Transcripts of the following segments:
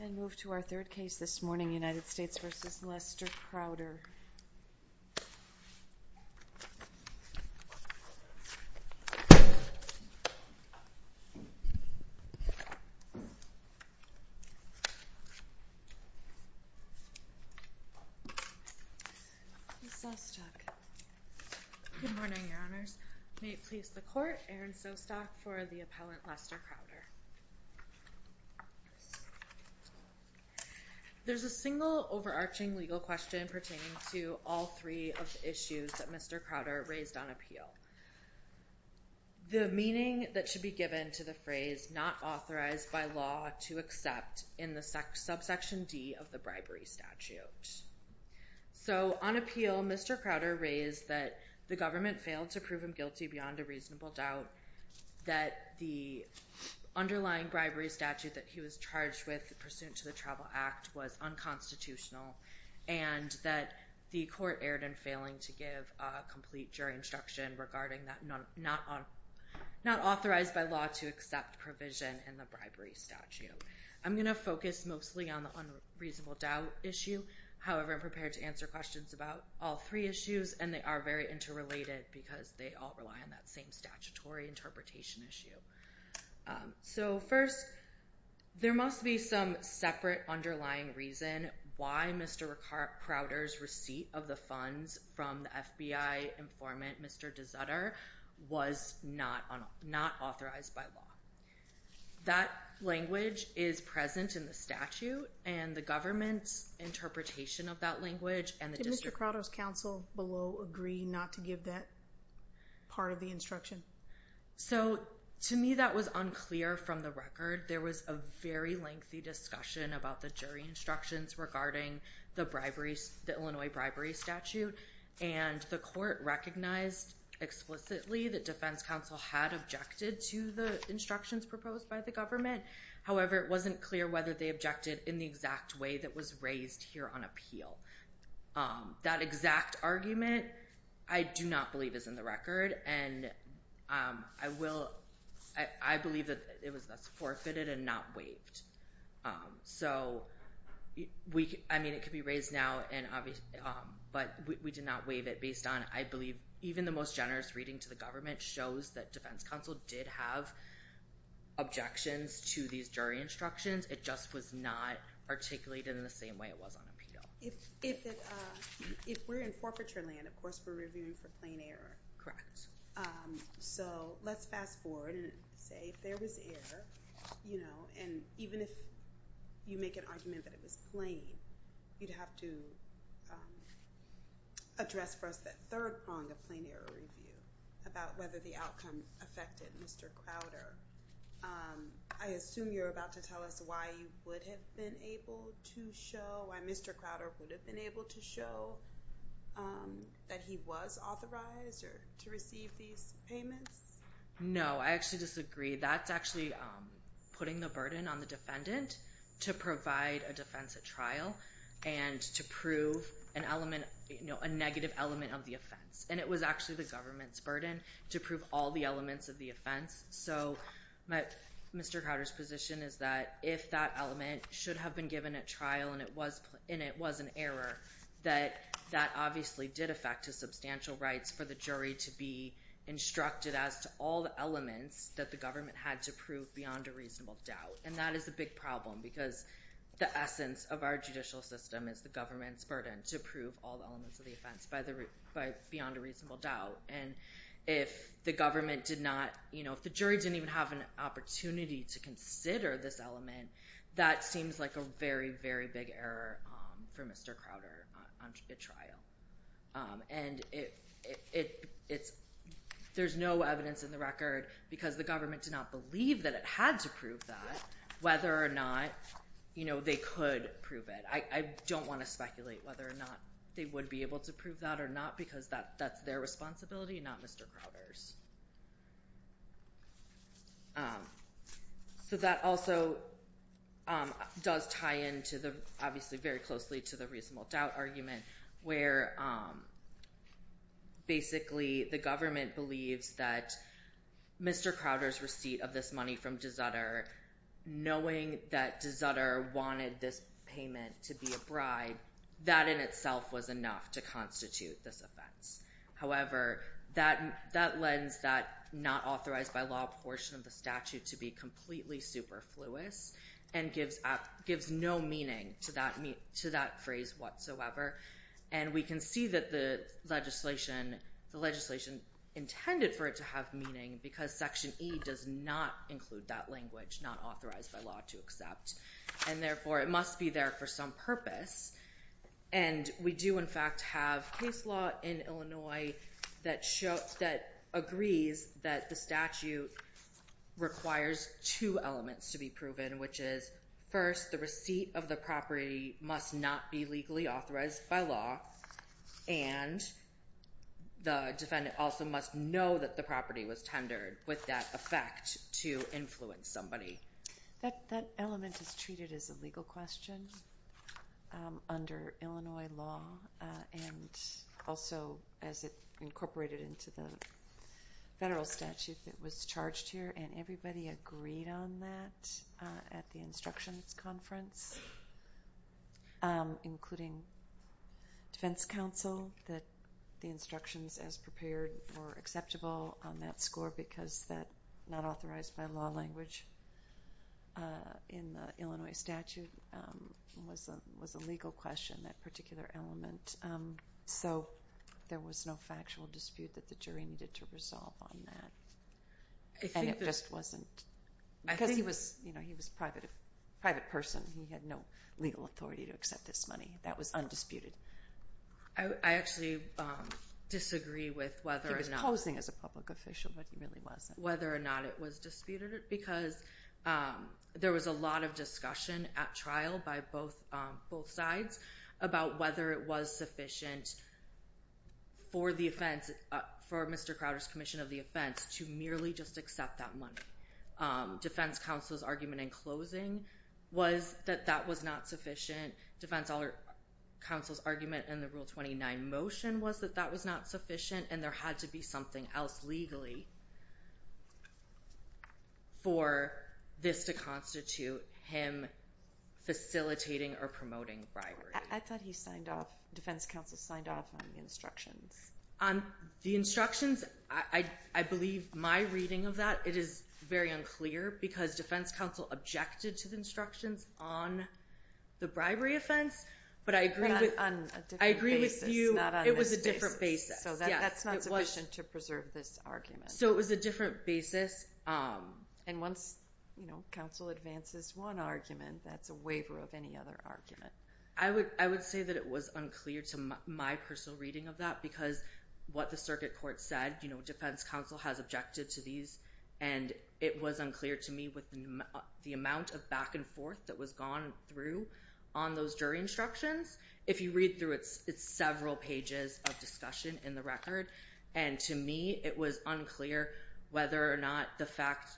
And move to our third case this morning, United States v. Lester Crowder. Good morning, Your Honors. May it please the Court, Aaron Sostock for the appellant Lester Crowder. There's a single overarching legal question pertaining to all three of the issues that Mr. Crowder raised on appeal. The meaning that should be given to the phrase not authorized by law to accept in the subsection D of the bribery statute. So on appeal, Mr. Crowder raised that the government failed to prove him guilty beyond a reasonable doubt, that the underlying bribery statute that he was charged with pursuant to the Travel Act was unconstitutional, and that the Court erred in failing to give a complete jury instruction regarding that not authorized by law to accept provision in the bribery statute. I'm going to focus mostly on the unreasonable doubt issue. However, I'm prepared to answer questions about all three issues, and they are very interrelated because they all rely on that same statutory interpretation issue. So first, there must be some separate underlying reason why Mr. Crowder's receipt of the funds from the FBI informant, Mr. Desutter, was not authorized by law. That language is present in the statute, and the government's interpretation of that language and the district... will below agree not to give that part of the instruction? So to me, that was unclear from the record. There was a very lengthy discussion about the jury instructions regarding the Illinois bribery statute, and the Court recognized explicitly that Defense Counsel had objected to the instructions proposed by the government. However, it wasn't clear whether they objected in the exact way that was raised here on appeal. That exact argument, I do not believe is in the record, and I believe that it was forfeited and not waived. So, I mean, it could be raised now, but we did not waive it based on... I believe even the most generous reading to the government shows that Defense Counsel did have objections to these jury instructions. It just was not articulated in the same way it was on appeal. If we're in forfeiture land, of course we're reviewing for plain error. So let's fast forward and say if there was error, you know, and even if you make an argument that it was plain, you'd have to address first that third prong of plain error review about whether the outcome affected Mr. Crowder. I assume you're about to tell us why you would have been able to show, why Mr. Crowder would have been able to show that he was authorized to receive these payments? No, I actually disagree. That's actually putting the burden on the defendant to provide a defense at trial and to prove a negative element of the offense. And it was actually the government's burden to prove all the elements of the offense. So Mr. Crowder's position is that if that element should have been given at trial and it was an error, that that obviously did affect his substantial rights for the jury to be instructed as to all the elements that the government had to prove beyond a reasonable doubt. And that is a big problem because the essence of our judicial system is the government's burden to prove all the elements of the offense beyond a reasonable doubt. And if the government did not, you know, if the jury didn't even have an opportunity to consider this element, that seems like a very, very big error for Mr. Crowder at trial. And there's no evidence in the record because the government did not believe that it had to prove that, whether or not, you know, they could prove it. I don't want to speculate whether or not they would be able to prove that or not because that's their responsibility, not Mr. Crowder's. So that also does tie into the, obviously very closely to the reasonable doubt argument, where basically the government believes that Mr. Crowder's receipt of this money from DeZutter, knowing that DeZutter wanted this payment to be a bribe, that in itself was enough to constitute this offense. However, that lends that not authorized by law portion of the statute to be completely superfluous and gives no meaning to that phrase whatsoever. And we can see that the legislation intended for it to have meaning because section E does not include that language, not authorized by law to accept. And therefore, it must be there for some purpose. And we do, in fact, have case law in Illinois that agrees that the statute requires two elements to be proven, which is first, the receipt of the property must not be legally authorized by law and the defendant also must know that the property was tendered with that effect to influence somebody. That element is treated as a legal question under Illinois law and also as it incorporated into the federal statute that was charged here, and everybody agreed on that at the instructions conference, including defense counsel, that the instructions as prepared were acceptable on that score because that not authorized by law language in the Illinois statute was a legal question, that particular element. So there was no factual dispute that the jury needed to resolve on that. And it just wasn't. Because he was a private person. He had no legal authority to accept this money. That was undisputed. I actually disagree with whether or not... He was posing as a public official, but he really wasn't. Whether or not it was disputed because there was a lot of discussion at trial by both sides about whether it was sufficient for Mr. Crowder's commission of the offense to merely just accept that money. Defense counsel's argument in closing was that that was not sufficient. Defense counsel's argument in the Rule 29 motion was that that was not sufficient and there had to be something else legally for this to constitute him facilitating or promoting bribery. I thought he signed off... Defense counsel signed off on the instructions. The instructions, I believe my reading of that, it is very unclear because defense counsel objected to the instructions on the bribery offense. But I agree with you... It was a different basis. That's not sufficient to preserve this argument. It was a different basis. Once counsel advances one argument, that's a waiver of any other argument. I would say that it was unclear to my personal reading of that because what the circuit court said, defense counsel has objected to these, and it was unclear to me with the amount of back and forth that was gone through on those jury instructions. If you read through it, it's several pages of discussion in the record, and to me it was unclear whether or not the fact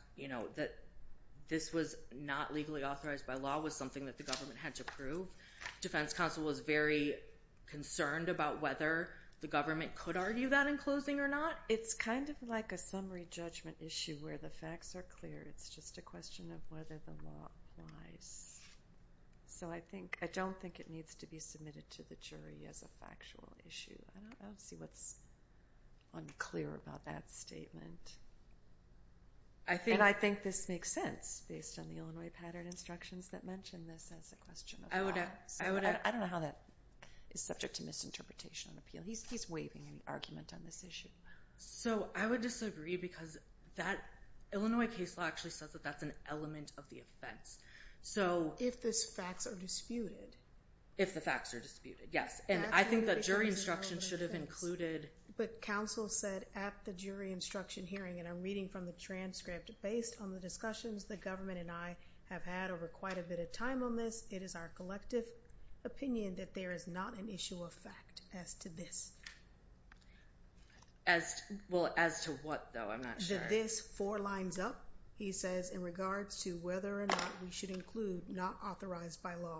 that this was not legally authorized by law was something that the government had to prove. Defense counsel was very concerned about whether the government could argue that in closing or not. It's kind of like a summary judgment issue where the facts are clear. It's just a question of whether the law applies. So I don't think it needs to be submitted to the jury as a factual issue. I don't see what's unclear about that statement. And I think this makes sense based on the Illinois pattern instructions that mention this as a question of law. I don't know how that is subject to misinterpretation on appeal. He's waiving an argument on this issue. So I would disagree because Illinois case law actually says that that's an element of the offense. If the facts are disputed. If the facts are disputed, yes. And I think that jury instruction should have included... But counsel said at the jury instruction hearing, and I'm reading from the transcript, based on the discussions the government and I have had over quite a bit of time on this, it is our collective opinion that there is not an issue of fact as to this. Well, as to what, though? I'm not sure. As to this four lines up, he says, in regards to whether or not we should include not authorized by law.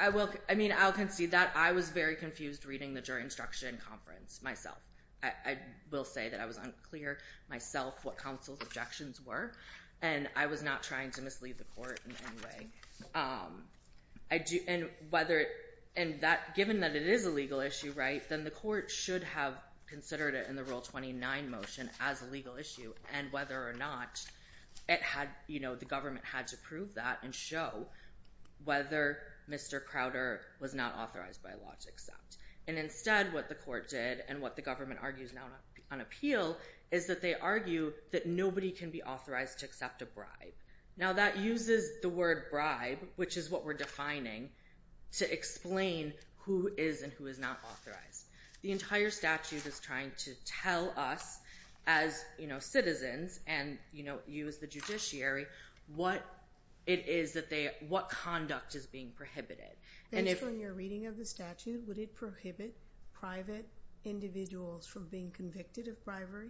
I'll concede that. I was very confused reading the jury instruction conference myself. I will say that I was unclear myself what counsel's objections were. And I was not trying to mislead the court in any way. And given that it is a legal issue, right, then the court should have considered it in the Rule 29 motion as a legal issue. And whether or not the government had to prove that and show whether Mr. Crowder was not authorized by law to accept. And instead, what the court did, and what the government argues now on appeal, is that they argue that nobody can be authorized to accept a bribe. Now, that uses the word bribe, which is what we're defining, to explain who is and who is not authorized. The entire statute is trying to tell us, as citizens, and you as the judiciary, what it is that they, what conduct is being prohibited. Based on your reading of the statute, would it prohibit private individuals from being convicted of bribery?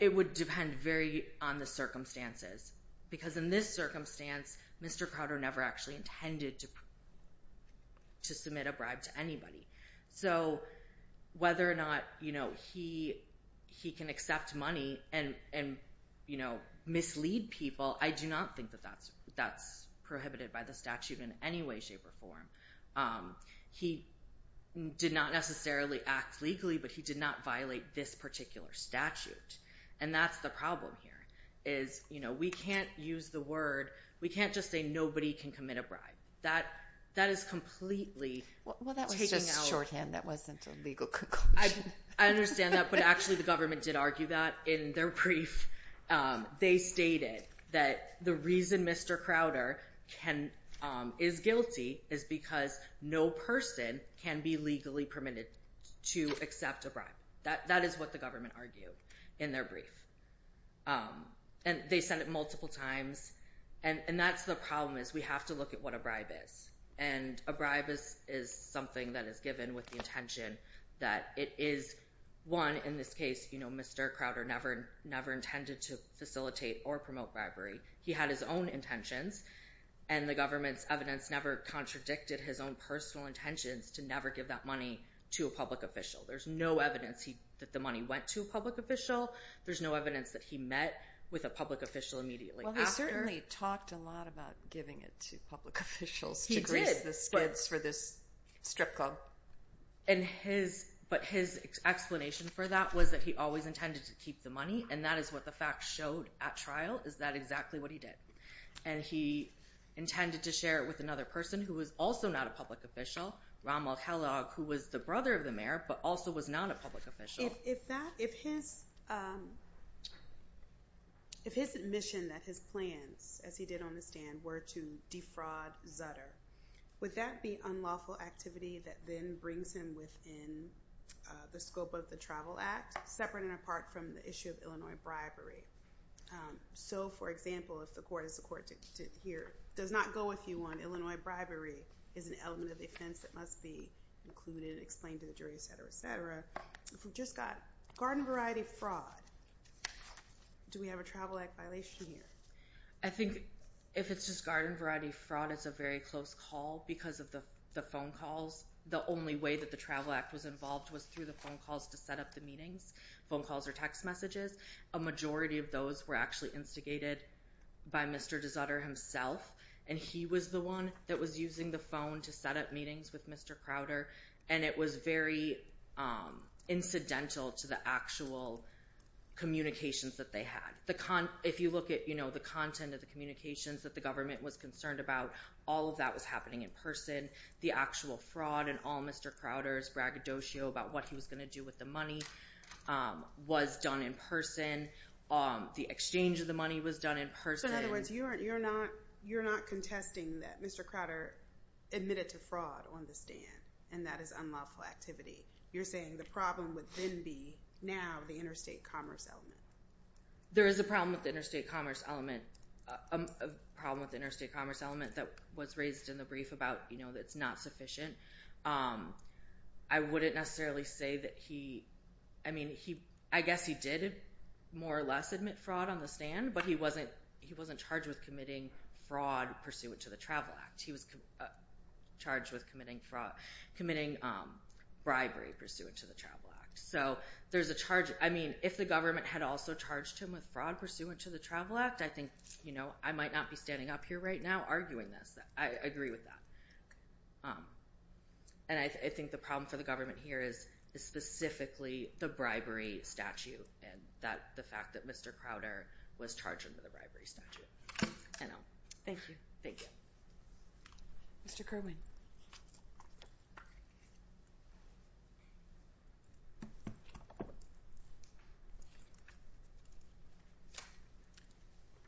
It would depend very on the circumstances. Because in this circumstance, Mr. Crowder never actually intended to submit a bribe to anybody. So whether or not, you know, he can accept money and, you know, mislead people, I do not think that that's prohibited by the statute in any way, shape, or form. He did not necessarily act legally, but he did not violate this particular statute. And that's the problem here, is, you know, we can't use the word, we can't just say nobody can commit a bribe. That is completely taking out... Well, that was just shorthand, that wasn't a legal conclusion. I understand that, but actually the government did argue that in their brief. They stated that the reason Mr. Crowder is guilty is because no person can be legally permitted to accept a bribe. That is what the government argued in their brief. And they said it multiple times, and that's the problem, is we have to look at what a bribe is. And a bribe is something that is given with the intention that it is, one, in this case, you know, Mr. Crowder never intended to facilitate or promote bribery. He had his own intentions, and the government's evidence never contradicted his own personal intentions to never give that money to a public official. There's no evidence that the money went to a public official. There's no evidence that he met with a public official immediately after. Well, he certainly talked a lot about giving it to public officials to grease the skids for this strip club. But his explanation for that was that he always intended to keep the money, and that is what the facts showed at trial, is that exactly what he did. And he intended to share it with another person who was also not a public official, Rahmal Helag, who was the brother of the mayor but also was not a public official. If his admission that his plans, as he did on the stand, were to defraud Zutter, would that be unlawful activity that then brings him within the scope of the Travel Act, separate and apart from the issue of Illinois bribery? So, for example, if the court, as the court did here, does not go with you on Illinois bribery as an element of offense that must be included, explained to the jury, et cetera, et cetera, if we've just got garden variety fraud, do we have a Travel Act violation here? I think if it's just garden variety fraud, it's a very close call because of the phone calls. The only way that the Travel Act was involved was through the phone calls to set up the meetings, phone calls or text messages. A majority of those were actually instigated by Mr. de Zutter himself, and he was the one that was using the phone to set up meetings with Mr. Crowder, and it was very incidental to the actual communications that they had. If you look at the content of the communications that the government was concerned about, all of that was happening in person. The actual fraud and all Mr. Crowder's braggadocio about what he was going to do with the money was done in person. The exchange of the money was done in person. So, in other words, you're not contesting that Mr. Crowder admitted to fraud on the stand, and that is unlawful activity. You're saying the problem would then be now the interstate commerce element. There is a problem with the interstate commerce element that was raised in the brief about, you know, that it's not sufficient. I wouldn't necessarily say that he – I mean, I guess he did more or less admit fraud on the stand, but he wasn't charged with committing fraud pursuant to the Travel Act. He was charged with committing bribery pursuant to the Travel Act. So there's a charge. I mean, if the government had also charged him with fraud pursuant to the Travel Act, I think, you know, I might not be standing up here right now arguing this. I agree with that. And I think the problem for the government here is specifically the bribery statute and the fact that Mr. Crowder was charged under the bribery statute. I know. Thank you. Thank you. Mr. Kerwin.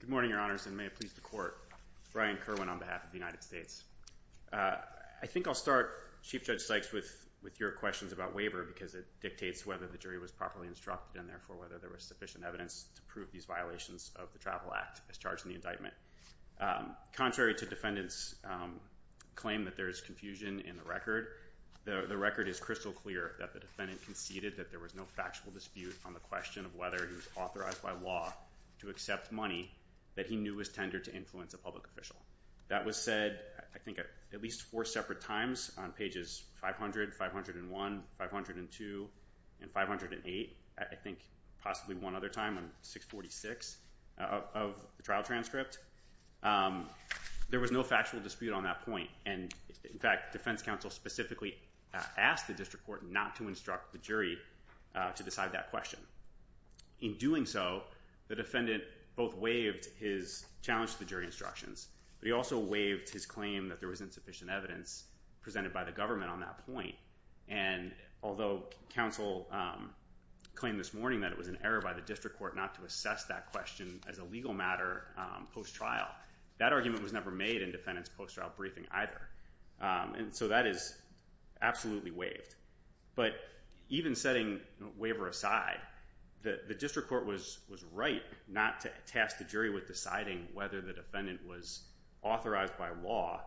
Good morning, Your Honors, and may it please the Court. Brian Kerwin on behalf of the United States. I think I'll start, Chief Judge Sykes, with your questions about waiver because it dictates whether the jury was properly instructed and, therefore, whether there was sufficient evidence to prove these violations of the Travel Act as charged in the indictment. Contrary to defendants' claim that there is confusion in the record, the record is crystal clear that the defendant conceded that there was no factual dispute on the question of whether he was authorized by law to accept money that he knew was tendered to influence a public official. That was said, I think, at least four separate times on pages 500, 501, 502, and 508. I think possibly one other time on 646 of the trial transcript. There was no factual dispute on that point, and, in fact, defense counsel specifically asked the district court not to instruct the jury to decide that question. In doing so, the defendant both waived his challenge to the jury instructions, but he also waived his claim that there was insufficient evidence presented by the government on that point. And although counsel claimed this morning that it was an error by the district court not to assess that question as a legal matter post-trial, that argument was never made in defendants' post-trial briefing either. And so that is absolutely waived. But even setting the waiver aside, the district court was right not to task the jury with deciding whether the defendant was authorized by law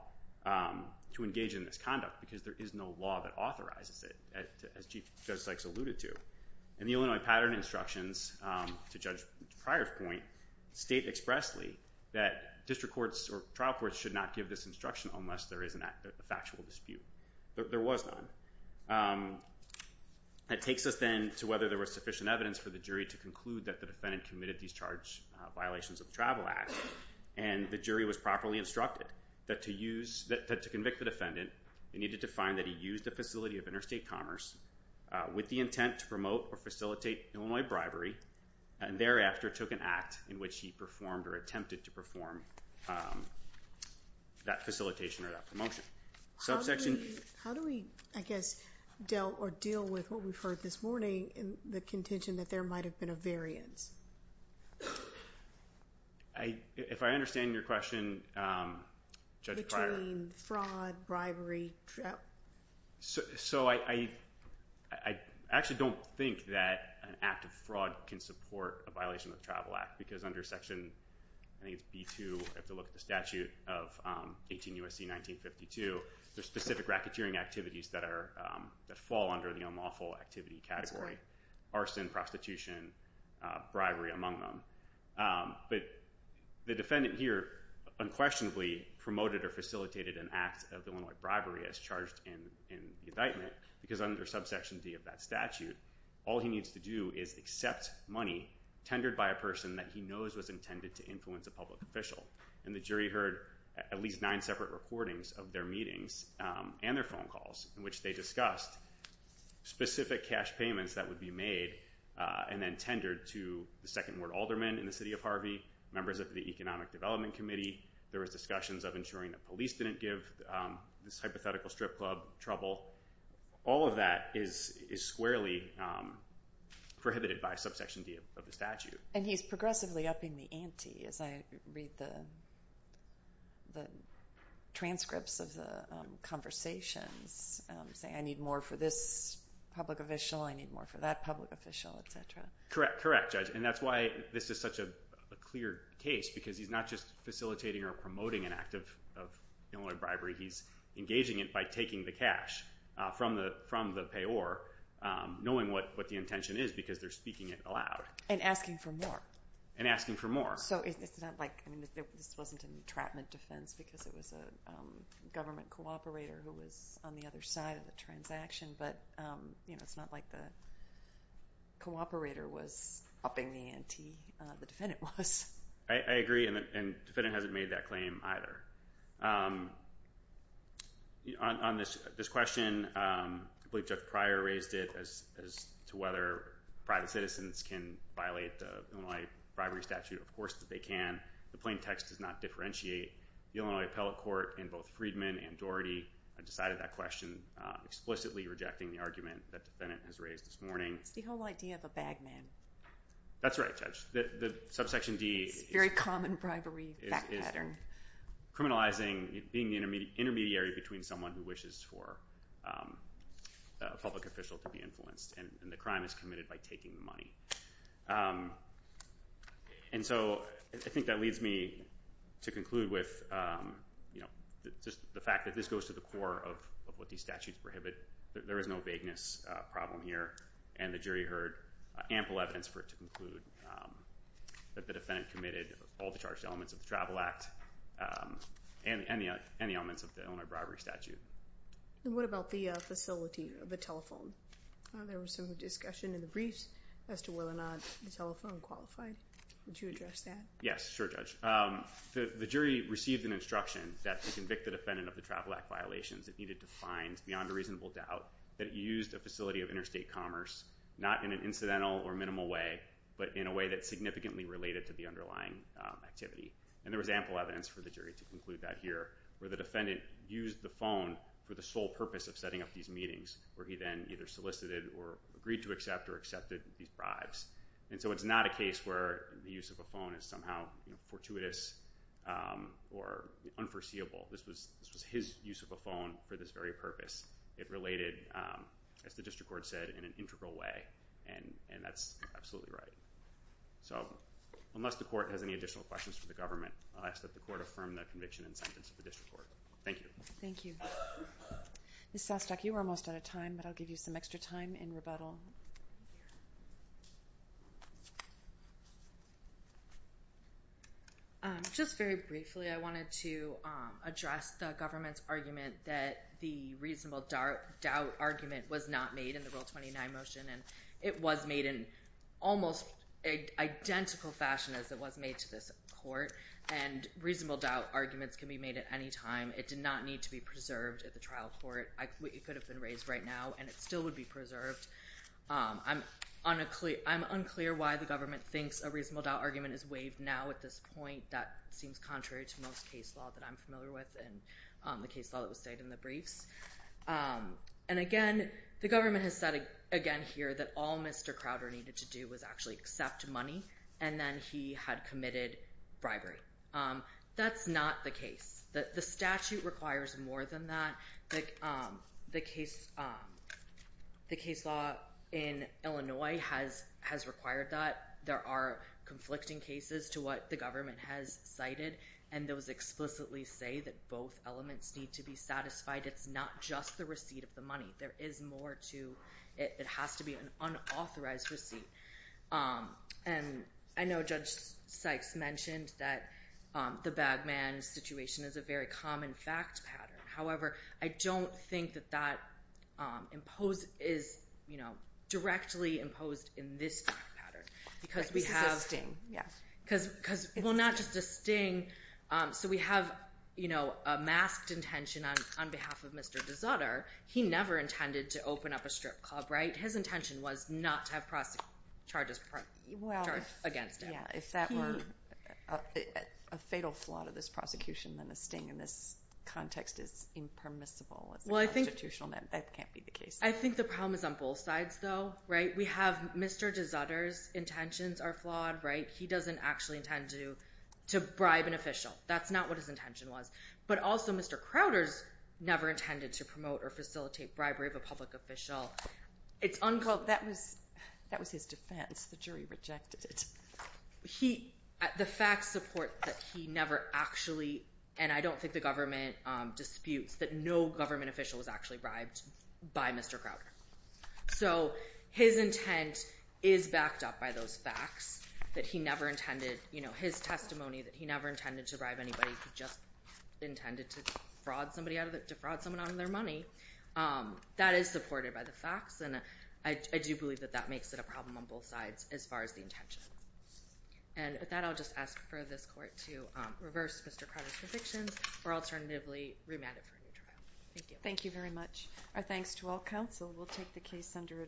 to engage in this conduct because there is no law that authorizes it, as Judge Sykes alluded to. And the Illinois Pattern Instructions, to Judge Pryor's point, state expressly that district courts or trial courts should not give this instruction unless there is a factual dispute. There was none. It takes us then to whether there was sufficient evidence for the jury to conclude that the defendant committed these charge violations of the Travel Act, and the jury was properly instructed that to convict the defendant, they needed to find that he used a facility of interstate commerce with the intent to promote or facilitate Illinois bribery, and thereafter took an act in which he performed or attempted to perform that facilitation or that promotion. How do we, I guess, deal with what we've heard this morning in the contention that there might have been a variance? If I understand your question, Judge Pryor. I mean, fraud, bribery. So I actually don't think that an act of fraud can support a violation of the Travel Act because under Section B-2, if you look at the statute of 18 U.S.C. 1952, there's specific racketeering activities that fall under the unlawful activity category, arson, prostitution, bribery among them. But the defendant here unquestionably promoted or facilitated an act of Illinois bribery as charged in the indictment because under Subsection D of that statute, all he needs to do is accept money tendered by a person that he knows was intended to influence a public official. And the jury heard at least nine separate recordings of their meetings and their phone calls in which they discussed specific cash payments that would be made and then tendered to the second ward alderman in the city of Harvey, members of the Economic Development Committee. There were discussions of ensuring that police didn't give this hypothetical strip club trouble. All of that is squarely prohibited by Subsection D of the statute. And he's progressively upping the ante as I read the transcripts of the conversations, saying I need more for this public official, I need more for that public official, et cetera. Correct, correct, Judge, and that's why this is such a clear case because he's not just facilitating or promoting an act of Illinois bribery. He's engaging it by taking the cash from the payor, knowing what the intention is because they're speaking it aloud. And asking for more. And asking for more. So it's not like this wasn't an entrapment defense because it was a government cooperator who was on the other side of the transaction, but it's not like the cooperator was upping the ante. The defendant was. I agree, and the defendant hasn't made that claim either. On this question, I believe Judge Pryor raised it as to whether private citizens can violate the Illinois bribery statute. Of course they can. The plain text does not differentiate. The Illinois appellate court in both Friedman and Doherty decided that question, explicitly rejecting the argument that the defendant has raised this morning. It's the whole idea of a bagman. That's right, Judge. The subsection D is criminalizing being the intermediary between someone who wishes for a public official to be influenced, and the crime is committed by taking the money. And so I think that leads me to conclude with the fact that this goes to the core of what these statutes prohibit. There is no vagueness problem here, and the jury heard ample evidence for it to conclude that the defendant committed all the charged elements of the Travel Act and the elements of the Illinois bribery statute. What about the facility of the telephone? There was some discussion in the briefs as to whether or not the telephone qualified. Would you address that? Yes, sure, Judge. The jury received an instruction that to convict the defendant of the Travel Act violations, it needed to find beyond a reasonable doubt that it used a facility of interstate commerce, not in an incidental or minimal way, but in a way that's significantly related to the underlying activity. And there was ample evidence for the jury to conclude that here, where the defendant used the phone for the sole purpose of setting up these meetings, where he then either solicited or agreed to accept or accepted these bribes. And so it's not a case where the use of a phone is somehow fortuitous or unforeseeable. This was his use of a phone for this very purpose. It related, as the district court said, in an integral way, and that's absolutely right. So unless the court has any additional questions for the government, I'll ask that the court affirm the conviction and sentence of the district court. Thank you. Thank you. Ms. Sostok, you were almost out of time, but I'll give you some extra time in rebuttal. Just very briefly, I wanted to address the government's argument that the reasonable doubt argument was not made in the Rule 29 motion, and it was made in almost an identical fashion as it was made to this court, and reasonable doubt arguments can be made at any time. It did not need to be preserved at the trial court. It could have been raised right now, and it still would be preserved. I'm unclear why the government thinks a reasonable doubt argument is waived now at this point. That seems contrary to most case law that I'm familiar with and the case law that was stated in the briefs. And again, the government has said again here that all Mr. Crowder needed to do was actually accept money, and then he had committed bribery. That's not the case. The statute requires more than that. The case law in Illinois has required that. There are conflicting cases to what the government has cited, and those explicitly say that both elements need to be satisfied. It's not just the receipt of the money. There is more to it. It has to be an unauthorized receipt. And I know Judge Sykes mentioned that the bag man situation is a very common fact pattern. However, I don't think that that is directly imposed in this pattern. This is a sting, yes. Well, not just a sting. So we have a masked intention on behalf of Mr. DeZutter. He never intended to open up a strip club, right? His intention was not to have charges against him. Yeah, if that were a fatal flaw to this prosecution, then a sting in this context is impermissible. As a constitutional matter, that can't be the case. I think the problem is on both sides, though, right? We have Mr. DeZutter's intentions are flawed, right? He doesn't actually intend to bribe an official. That's not what his intention was. But also Mr. Crowder's never intended to promote or facilitate bribery of a public official. That was his defense. The jury rejected it. The facts support that he never actually, and I don't think the government disputes, that no government official was actually bribed by Mr. Crowder. So his intent is backed up by those facts that he never intended. His testimony that he never intended to bribe anybody. He just intended to defraud someone out of their money. That is supported by the facts, and I do believe that that makes it a problem on both sides as far as the intention. And with that, I'll just ask for this court to reverse Mr. Crowder's convictions or alternatively remand it for a new trial. Thank you. Thank you very much. Our thanks to all counsel. We'll take the case under advisement.